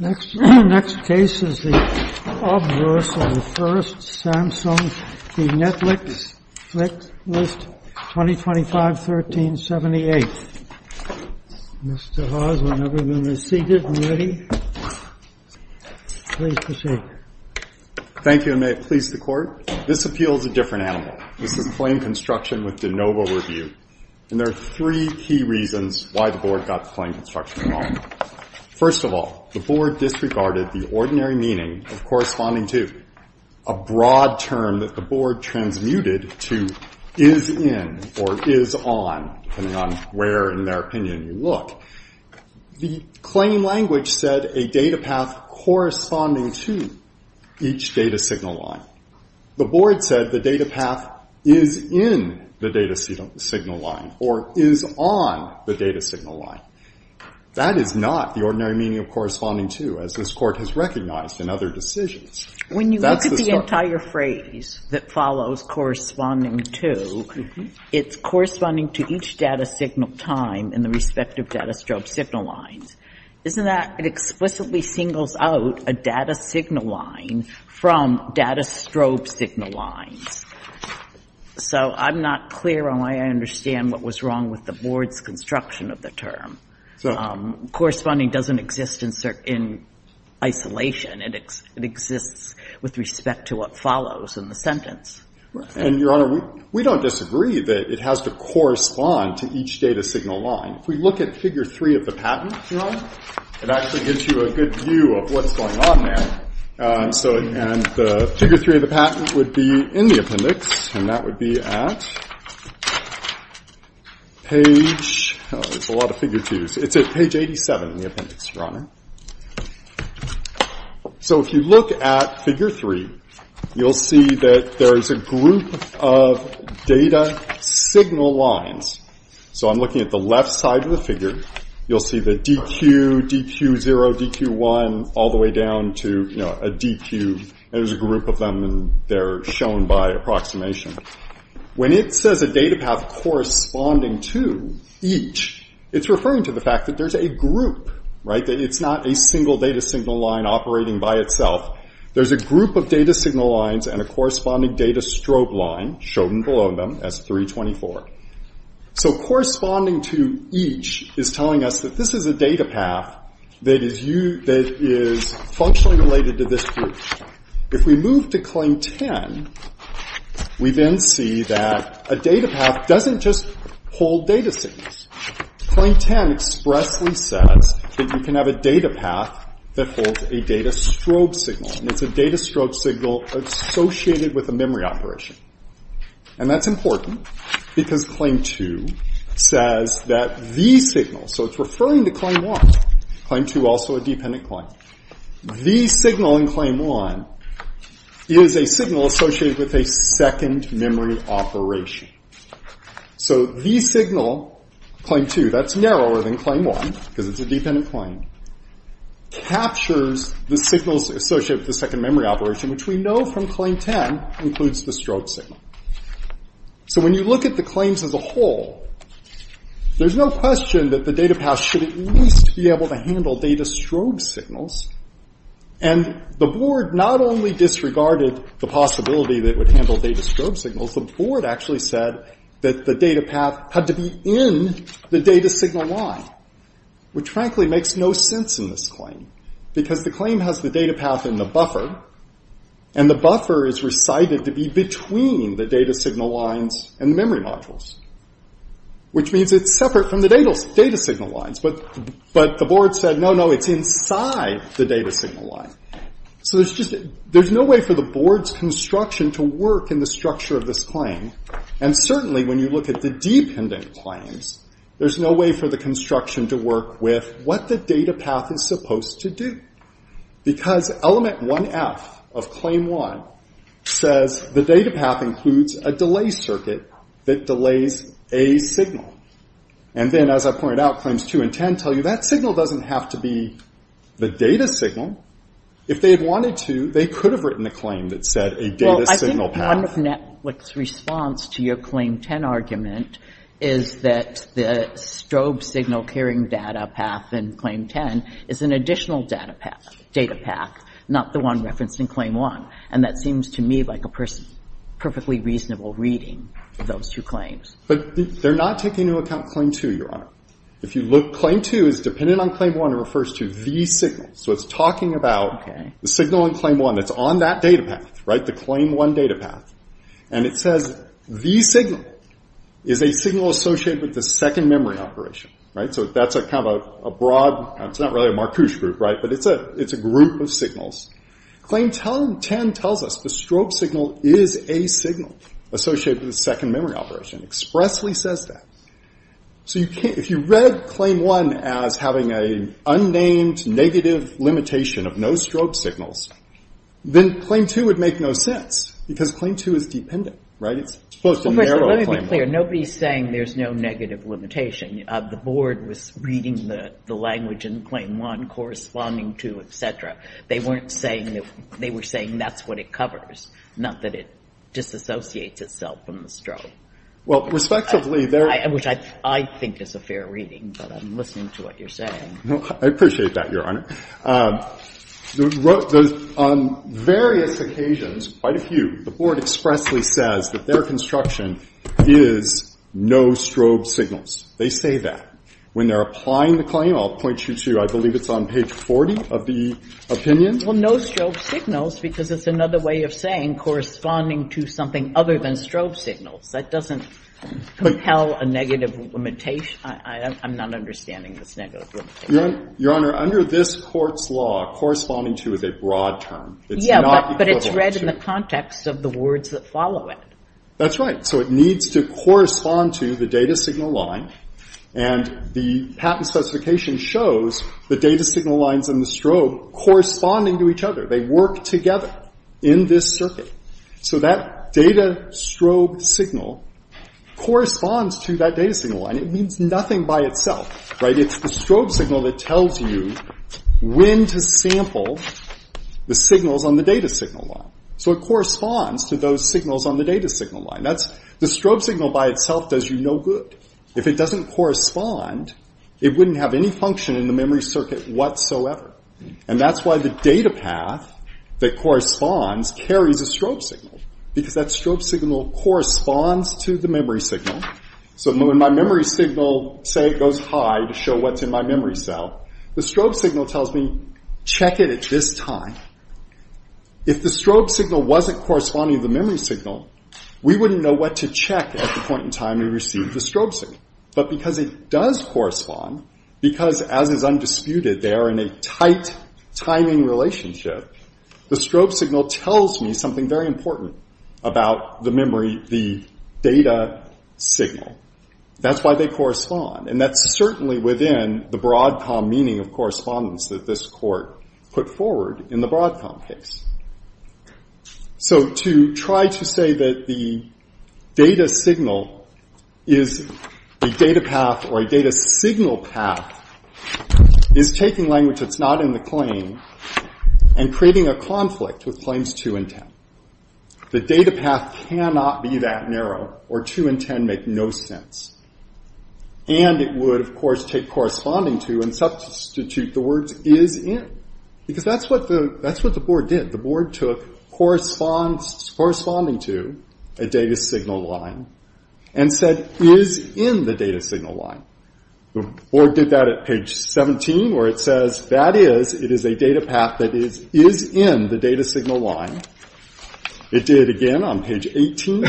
Next case is the obvious and the first, Samsung v. Netlist, Ltd., 2025-1378. Mr. Haas, whenever you're seated and ready, please proceed. Thank you, and may it please the Court. This appeal is a different animal. This is a claim construction with de novo review, and there are three key reasons why the Board got the claim construction wrong. First of all, the Board disregarded the ordinary meaning of corresponding to, a broad term that the Board transmuted to is in or is on, depending on where in their opinion you look. The claim language said a data path corresponding to each data signal line. The Board said the data path is in the data signal line or is on the data signal line. That is not the ordinary meaning of corresponding to, as this Court has recognized in other decisions. That's the story. When you look at the entire phrase that follows corresponding to, it's corresponding to each data signal time in the respective data strobe signal lines. Isn't that an explicitly singles out a data signal line from data strobe signal lines? So I'm not clear on why I understand what was wrong with the Board's construction of the term. Corresponding doesn't exist in isolation. It exists with respect to what follows in the sentence. And, Your Honor, we don't disagree that it has to correspond to each data signal line. If we look at Figure 3 of the patent, Your Honor, it actually gives you a good view of what's going on there. And the Figure 3 of the patent would be in the appendix, and that would be at page 87 in the appendix, Your Honor. So if you look at Figure 3, you'll see that there is a group of data signal lines. So I'm looking at the left side of the figure. You'll see the DQ, DQ0, DQ1, all the way down to a DQ. There's a group of them, and they're shown by approximation. When it says a data path corresponding to each, it's referring to the fact that there's a group, right, that it's not a single data signal line operating by itself. There's a group of data signal lines and a corresponding data strobe line shown below them as 324. So corresponding to each is telling us that this is a data path that is functionally related to this group. If we move to Claim 10, we then see that a data path doesn't just hold data signals. Claim 10 expressly says that you can have a data path that holds a data strobe signal, and it's a data strobe signal associated with a memory operation. And that's important because Claim 2 says that the signal, so it's referring to Claim 1, Claim 2 also a dependent claim. The signal in Claim 1 is a signal associated with a second memory operation. So the signal, Claim 2, that's narrower than Claim 1, because it's a dependent claim, captures the signals associated with the second memory operation, which we know from Claim 10 includes the strobe signal. So when you look at the claims as a whole, there's no question that the data path should at least be able to handle data strobe signals. And the board not only disregarded the possibility that it would handle data strobe signals, the board actually said that the data path had to be in the data signal line, which frankly makes no sense in this claim, because the claim has the data path in the buffer, and the buffer is recited to be between the data signal lines and the memory modules, which means it's separate from the data signal lines. But the board said, no, no, it's inside the data signal line. So there's no way for the board's construction to work in the structure of this claim. And certainly when you look at the dependent claims, there's no way for the construction to work with what the data path is supposed to do, because Element 1F of Claim 1 says the data path includes a delay circuit that delays a signal. And then as I pointed out, Claims 2 and 10 tell you that signal doesn't have to be the data signal. If they had wanted to, they could have written a claim that said a data signal path. Well, I think one of Netflix's response to your Claim 10 argument is that the strobe signal carrying data path in Claim 10 is an additional data path, not the one referenced in Claim 1. And that seems to me like a perfectly reasonable reading of those two claims. But they're not taking into account Claim 2, Your Honor. If you look, Claim 2 is dependent on Claim 1. It refers to the signal. So it's talking about the signal in Claim 1 that's on that data path, right, the Claim 1 data path. And it says the signal is a signal associated with the second memory operation, right? So that's kind of a broad – it's not really a Marcuse group, right? But it's a group of signals. Claim 10 tells us the strobe signal is a signal associated with the second memory operation. It expressly says that. So you can't – if you read Claim 1 as having an unnamed negative limitation of no strobe signals, then Claim 2 would make no sense because Claim 2 is dependent, right? It's supposed to narrow Claim 1. Well, first, let me be clear. Nobody's saying there's no negative limitation. The board was reading the language in Claim 1 corresponding to et cetera. They weren't saying – they were saying that's what it covers, not that it disassociates itself from the strobe. Well, respectively, there – Which I think is a fair reading, but I'm listening to what you're saying. I appreciate that, Your Honor. On various occasions, quite a few, the board expressly says that their construction is no strobe signals. They say that. When they're applying the claim, I'll point you to – I believe it's on page 40 of the opinion. Well, no strobe signals because it's another way of saying corresponding to something other than strobe signals. That doesn't compel a negative limitation. I'm not understanding this negative limitation. Your Honor, under this Court's law, corresponding to is a broad term. It's not equivalent to. Yeah, but it's read in the context of the words that follow it. That's right. So it needs to correspond to the data signal line, and the patent specification shows the data signal lines and the strobe corresponding to each other. They work together in this circuit. So that data strobe signal corresponds to that data signal line. It means nothing by itself. It's the strobe signal that tells you when to sample the signals on the data signal line. So it corresponds to those signals on the data signal line. The strobe signal by itself does you no good. If it doesn't correspond, it wouldn't have any function in the memory circuit whatsoever. And that's why the data path that corresponds carries a strobe signal because that strobe signal corresponds to the memory signal. So when my memory signal, say, goes high to show what's in my memory cell, the strobe signal tells me, check it at this time. If the strobe signal wasn't corresponding to the memory signal, we wouldn't know what to check at the point in time we received the strobe signal. But because it does correspond, because, as is undisputed, they are in a tight timing relationship, the strobe signal tells me something very important about the memory, the data signal. That's why they correspond. And that's certainly within the Broadcom meaning of correspondence that this court put forward in the Broadcom case. So to try to say that the data signal is a data path or a data signal path is taking language that's not in the claim and creating a conflict with claims 2 and 10. The data path cannot be that narrow, or 2 and 10 make no sense. And it would, of course, take corresponding to and substitute the words is in. Because that's what the board did. The board took corresponding to a data signal line and said is in the data signal line. The board did that at page 17 where it says that is, it is a data path that is in the data signal line. It did it again on page 18.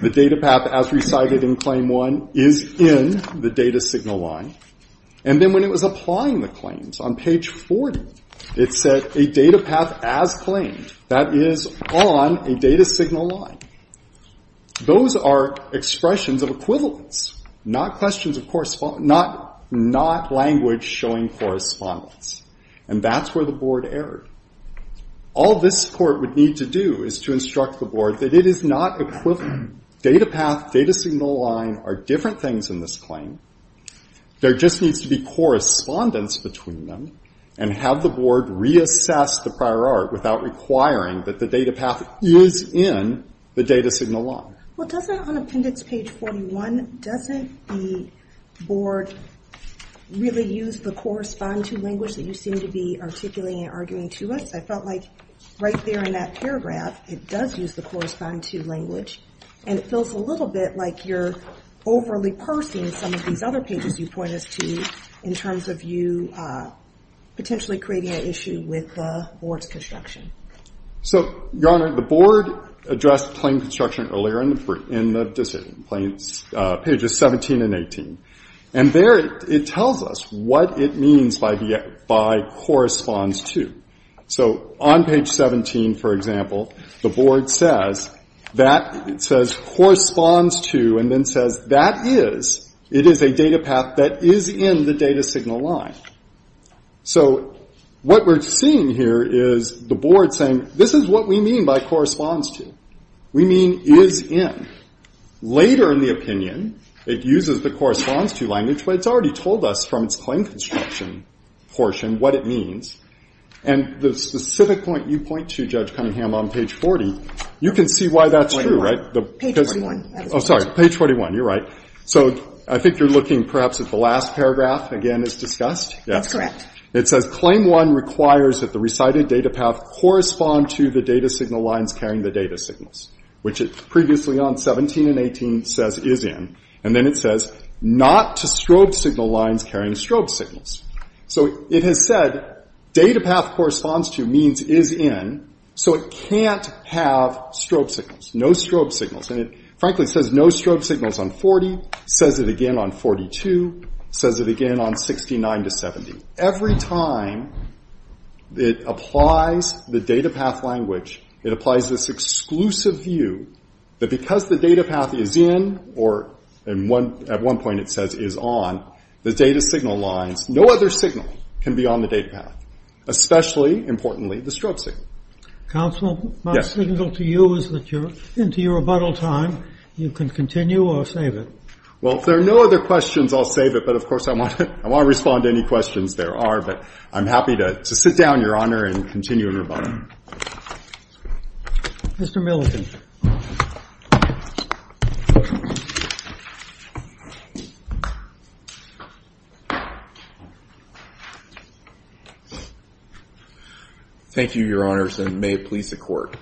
The data path as recited in claim 1 is in the data signal line. And then when it was applying the claims on page 40, it said a data path as claimed. That is on a data signal line. Those are expressions of equivalence, not questions of correspondence, not language showing correspondence. And that's where the board erred. All this court would need to do is to instruct the board that it is not equivalent. Data path, data signal line are different things in this claim. There just needs to be correspondence between them and have the board reassess the prior art without requiring that the data path is in the data signal line. Well, doesn't on appendix page 41, doesn't the board really use the correspond to language that you seem to be articulating and arguing to us? I felt like right there in that paragraph, it does use the correspond to language. And it feels a little bit like you're overly parsing some of these other pages you point us to in terms of you potentially creating an issue with the board's construction. So, Your Honor, the board addressed claim construction earlier in the decision, pages 17 and 18. And there it tells us what it means by corresponds to. So on page 17, for example, the board says that it says corresponds to and then says that is, it is a data path that is in the data signal line. So what we're seeing here is the board saying, this is what we mean by corresponds to. We mean is in. Later in the opinion, it uses the corresponds to language, but it's already told us from its claim construction portion what it means. And the specific point you point to, Judge Cunningham, on page 40, you can see why that's true, right? Page 21. Oh, sorry, page 21. You're right. So I think you're looking perhaps at the last paragraph, again, as discussed. That's correct. It says claim one requires that the recited data path correspond to the data signal lines carrying the data signals, which previously on 17 and 18 says is in. And then it says not to strobe signal lines carrying strobe signals. So it has said data path corresponds to means is in, so it can't have strobe signals, no strobe signals. And it frankly says no strobe signals on 40, says it again on 42, says it again on 69 to 70. Every time it applies the data path language, it applies this exclusive view that because the data path is in or at one point it says is on, the data signal lines, no other signal can be on the data path, especially, importantly, the strobe signal. Counsel, my signal to you is that you're into your rebuttal time. You can continue or save it. Well, if there are no other questions, I'll save it. But, of course, I want to respond to any questions there are. But I'm happy to sit down, Your Honor, and continue in rebuttal. Mr. Milliken. Thank you, Your Honors, and may it please the Court.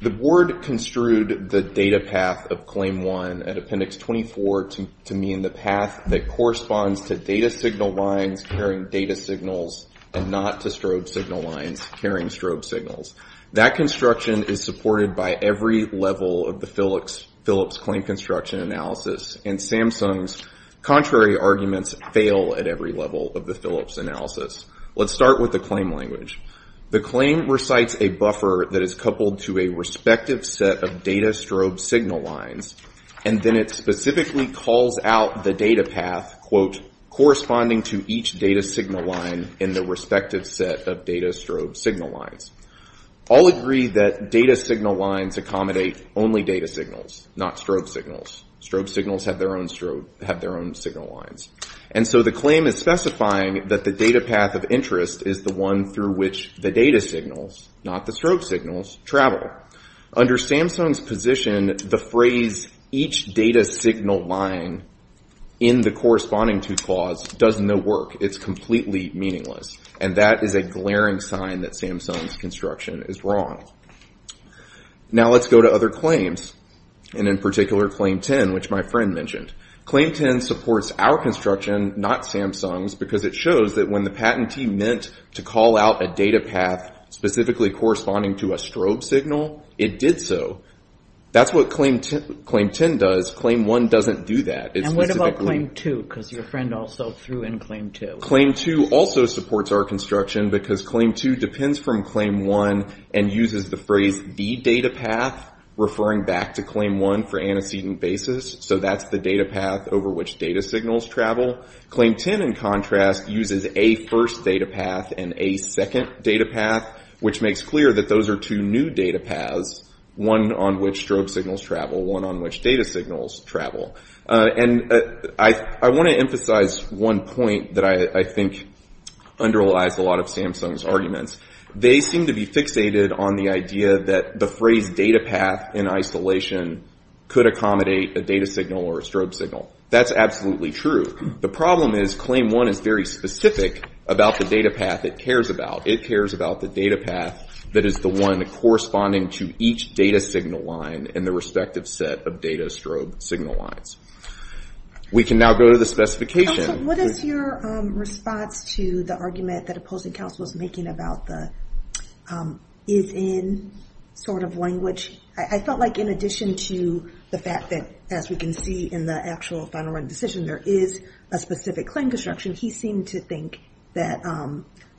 The Board construed the data path of Claim 1 at Appendix 24 to mean the path that corresponds to data signal lines carrying data signals and not to strobe signal lines carrying strobe signals. That construction is supported by every level of the Philips claim construction analysis, and Samsung's contrary arguments fail at every level of the Philips analysis. Let's start with the claim language. The claim recites a buffer that is coupled to a respective set of data strobe signal lines, and then it specifically calls out the data path, quote, All agree that data signal lines accommodate only data signals, not strobe signals. Strobe signals have their own signal lines. And so the claim is specifying that the data path of interest is the one through which the data signals, not the strobe signals, travel. Under Samsung's position, the phrase each data signal line in the corresponding to clause does no work. It's completely meaningless. And that is a glaring sign that Samsung's construction is wrong. Now let's go to other claims, and in particular Claim 10, which my friend mentioned. Claim 10 supports our construction, not Samsung's, because it shows that when the patentee meant to call out a data path specifically corresponding to a strobe signal, it did so. That's what Claim 10 does. Claim 1 doesn't do that. And what about Claim 2, because your friend also threw in Claim 2. Claim 2 also supports our construction because Claim 2 depends from Claim 1 and uses the phrase the data path, referring back to Claim 1 for antecedent basis. So that's the data path over which data signals travel. Claim 10, in contrast, uses a first data path and a second data path, which makes clear that those are two new data paths, one on which strobe signals travel, one on which data signals travel. And I want to emphasize one point that I think underlies a lot of Samsung's arguments. They seem to be fixated on the idea that the phrase data path in isolation could accommodate a data signal or a strobe signal. That's absolutely true. The problem is Claim 1 is very specific about the data path it cares about. It cares about the data path that is the one corresponding to each data signal line in the respective set of data strobe signal lines. We can now go to the specification. What is your response to the argument that opposing counsel was making about the is in sort of language? I felt like in addition to the fact that, as we can see in the actual final written decision, there is a specific claim construction, he seemed to think that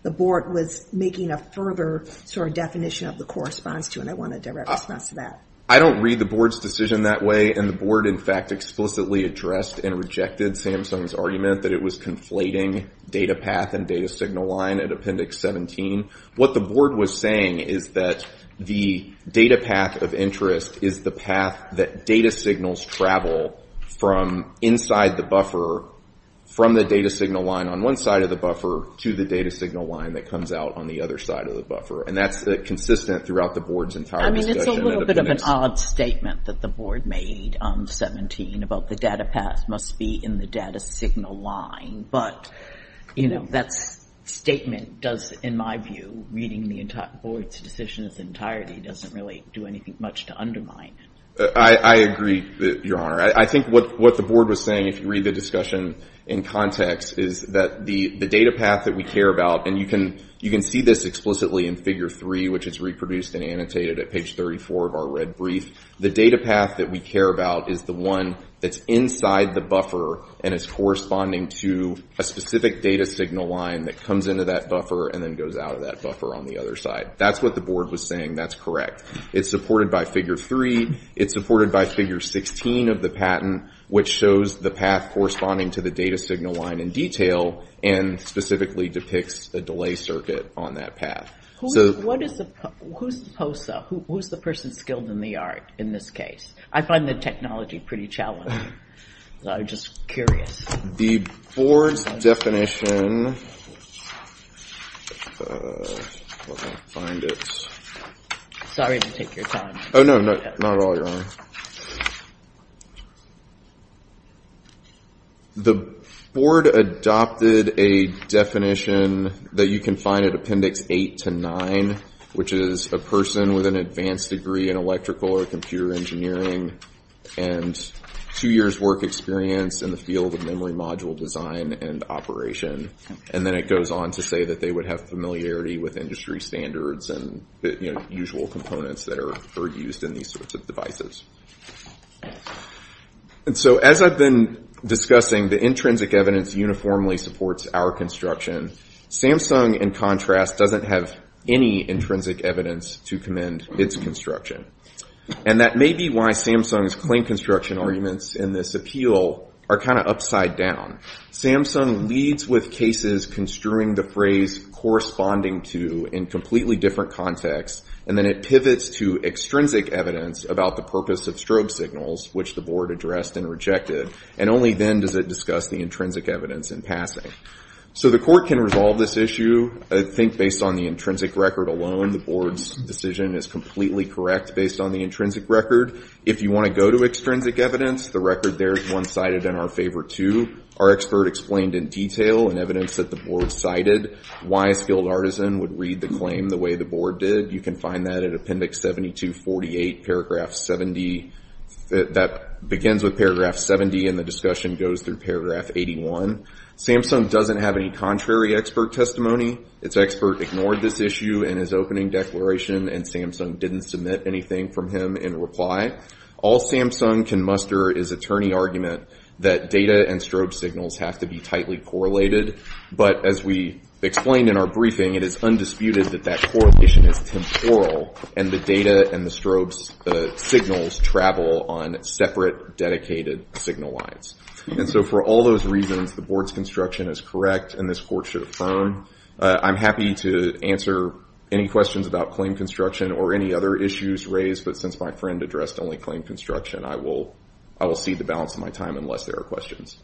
the board was making a further sort of definition of the corresponds to, and I want a direct response to that. I don't read the board's decision that way, and the board, in fact, explicitly addressed and rejected Samsung's argument that it was conflating data path and data signal line at Appendix 17. What the board was saying is that the data path of interest is the path that data signals travel from inside the buffer from the data signal line on one side of the buffer to the data signal line that comes out on the other side of the buffer, and that's consistent throughout the board's entire discussion at Appendix. I mean, it's a little bit of an odd statement that the board made on 17 about the data path must be in the data signal line, but, you know, that statement does, in my view, reading the board's decision in its entirety doesn't really do anything much to undermine it. I agree, Your Honor. I think what the board was saying, if you read the discussion in context, is that the data path that we care about, and you can see this explicitly in Figure 3, which is reproduced and annotated at page 34 of our red brief. The data path that we care about is the one that's inside the buffer and is corresponding to a specific data signal line that comes into that buffer and then goes out of that buffer on the other side. That's what the board was saying. That's correct. It's supported by Figure 3. It's supported by Figure 16 of the patent, which shows the path corresponding to the data signal line in detail and specifically depicts a delay circuit on that path. Who's the person skilled in the art in this case? I find the technology pretty challenging, so I'm just curious. The board's definition... Sorry to take your time. Oh, no, not at all, Your Honor. The board adopted a definition that you can find at Appendix 8 to 9, which is a person with an advanced degree in electrical or computer engineering and two years' work experience in the field of memory module design and operation, and then it goes on to say that they would have familiarity with industry standards and usual components that are used in these sorts of devices. And so as I've been discussing, the intrinsic evidence uniformly supports our construction. Samsung, in contrast, doesn't have any intrinsic evidence to commend its construction, and that may be why Samsung's claim construction arguments in this appeal are kind of upside down. Samsung leads with cases construing the phrase corresponding to in completely different contexts, and then it pivots to extrinsic evidence about the purpose of strobe signals, which the board addressed and rejected, and only then does it discuss the intrinsic evidence in passing. So the court can resolve this issue, I think, based on the intrinsic record alone. The board's decision is completely correct based on the intrinsic record. If you want to go to extrinsic evidence, the record there is one-sided in our favor, too. Our expert explained in detail in evidence that the board cited why a skilled artisan would read the claim the way the board did. You can find that in Appendix 7248, Paragraph 70. That begins with Paragraph 70, and the discussion goes through Paragraph 81. Samsung doesn't have any contrary expert testimony. Its expert ignored this issue in his opening declaration, and Samsung didn't submit anything from him in reply. All Samsung can muster is attorney argument that data and strobe signals have to be tightly correlated, but as we explained in our briefing, it is undisputed that that correlation is temporal and the data and the strobe signals travel on separate dedicated signal lines. And so for all those reasons, the board's construction is correct, and this court should affirm. I'm happy to answer any questions about claim construction or any other issues raised, but since my friend addressed only claim construction, I will cede the balance of my time unless there are questions.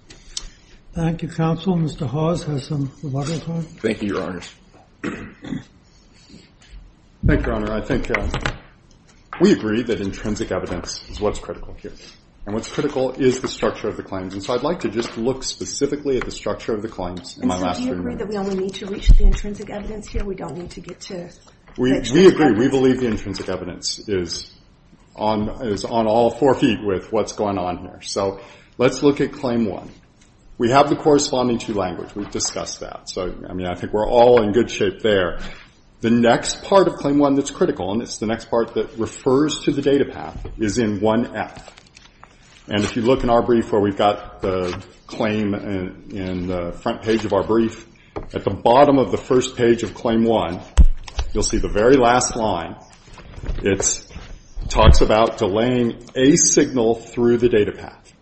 Thank you, counsel. Mr. Hawes has some rebuttal time. Thank you, Your Honor. Thank you, Your Honor. I think we agree that intrinsic evidence is what's critical here, and what's critical is the structure of the claims, and so I'd like to just look specifically at the structure of the claims in my last three minutes. And so do you agree that we only need to reach the intrinsic evidence here? We don't need to get to the actual structure? We agree. We believe the intrinsic evidence is on all four feet with what's going on here. So let's look at Claim 1. We have the corresponding two languages. We've discussed that. So, I mean, I think we're all in good shape there. The next part of Claim 1 that's critical, and it's the next part that refers to the data path, is in 1F. And if you look in our brief where we've got the claim in the front page of our brief, at the bottom of the first page of Claim 1, you'll see the very last line. It talks about delaying a signal through the data path.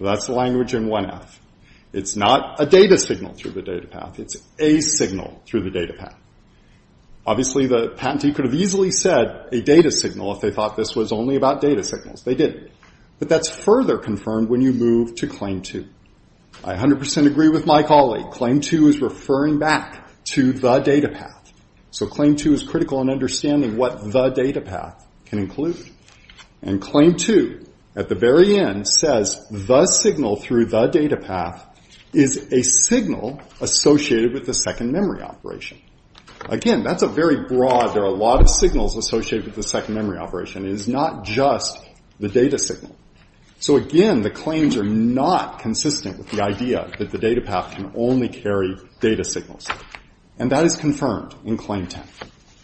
That's the language in 1F. It's not a data signal through the data path. It's a signal through the data path. Obviously, the patentee could have easily said a data signal if they thought this was only about data signals. They didn't. But that's further confirmed when you move to Claim 2. I 100% agree with my colleague. Claim 2 is referring back to the data path. So Claim 2 is critical in understanding what the data path can include. And Claim 2, at the very end, says the signal through the data path is a signal associated with the second memory operation. Again, that's a very broad. There are a lot of signals associated with the second memory operation. It is not just the data signal. So again, the claims are not consistent with the idea that the data path can only carry data signals. And that is confirmed in Claim 10.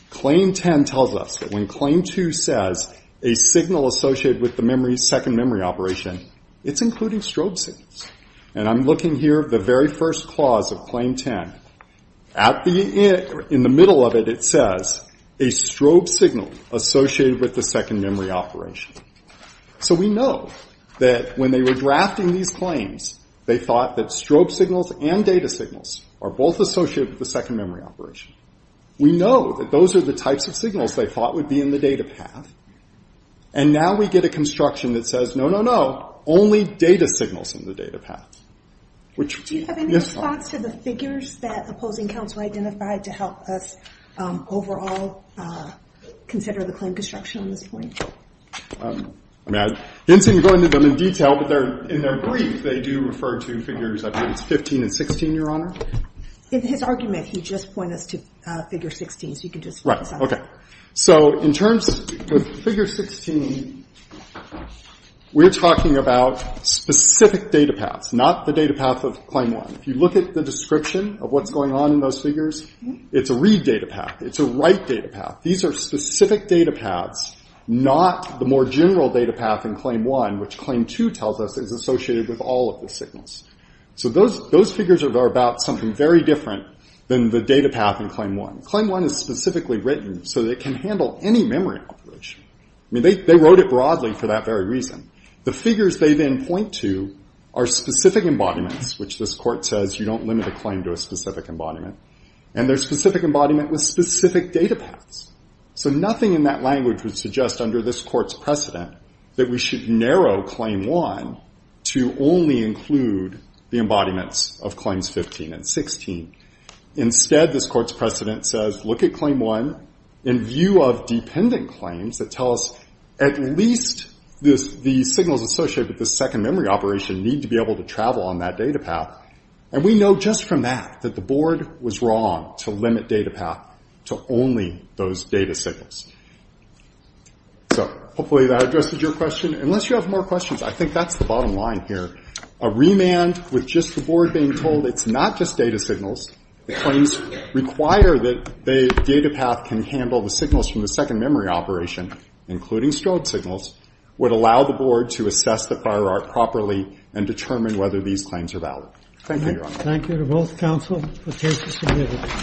Claim 10 tells us that when Claim 2 says a signal associated with the second memory operation, it's including strobe signals. And I'm looking here at the very first clause of Claim 10. In the middle of it, it says a strobe signal associated with the second memory operation. So we know that when they were drafting these claims, they thought that strobe signals and data signals are both associated with the second memory operation. We know that those are the types of signals they thought would be in the data path. And now we get a construction that says, no, no, no, only data signals in the data path. Do you have any thoughts for the figures that opposing counsel identified to help us overall consider the claim construction on this point? I didn't seem to go into them in detail, but in their brief, they do refer to figures 15 and 16, Your Honor. In his argument, he just pointed us to figure 16, so you can just focus on that. So in terms of figure 16, we're talking about specific data paths, not the data path of Claim 1. If you look at the description of what's going on in those figures, it's a read data path, it's a write data path. These are specific data paths, not the more general data path in Claim 1, which Claim 2 tells us is associated with all of the signals. So those figures are about something very different than the data path in Claim 1. Claim 1 is specifically written so that it can handle any memory operation. They wrote it broadly for that very reason. The figures they then point to are specific embodiments, which this Court says you don't limit a claim to a specific embodiment, and they're specific embodiment with specific data paths. So nothing in that language would suggest, under this Court's precedent, that we should narrow Claim 1 to only include the embodiments of Claims 15 and 16. Instead, this Court's precedent says, look at Claim 1 in view of dependent claims that tell us at least the signals associated with the second memory operation need to be able to travel on that data path, and we know just from that that the Board was wrong to limit data path to only those data signals. So hopefully that addresses your question. Unless you have more questions, I think that's the bottom line here. A remand with just the Board being told it's not just data signals, the claims require that the data path can handle the signals from the second memory operation, including strobe signals, would allow the Board to assess the fire arc properly and determine whether these claims are valid. Thank you, Your Honor. Thank you to both counsel for cases submitted.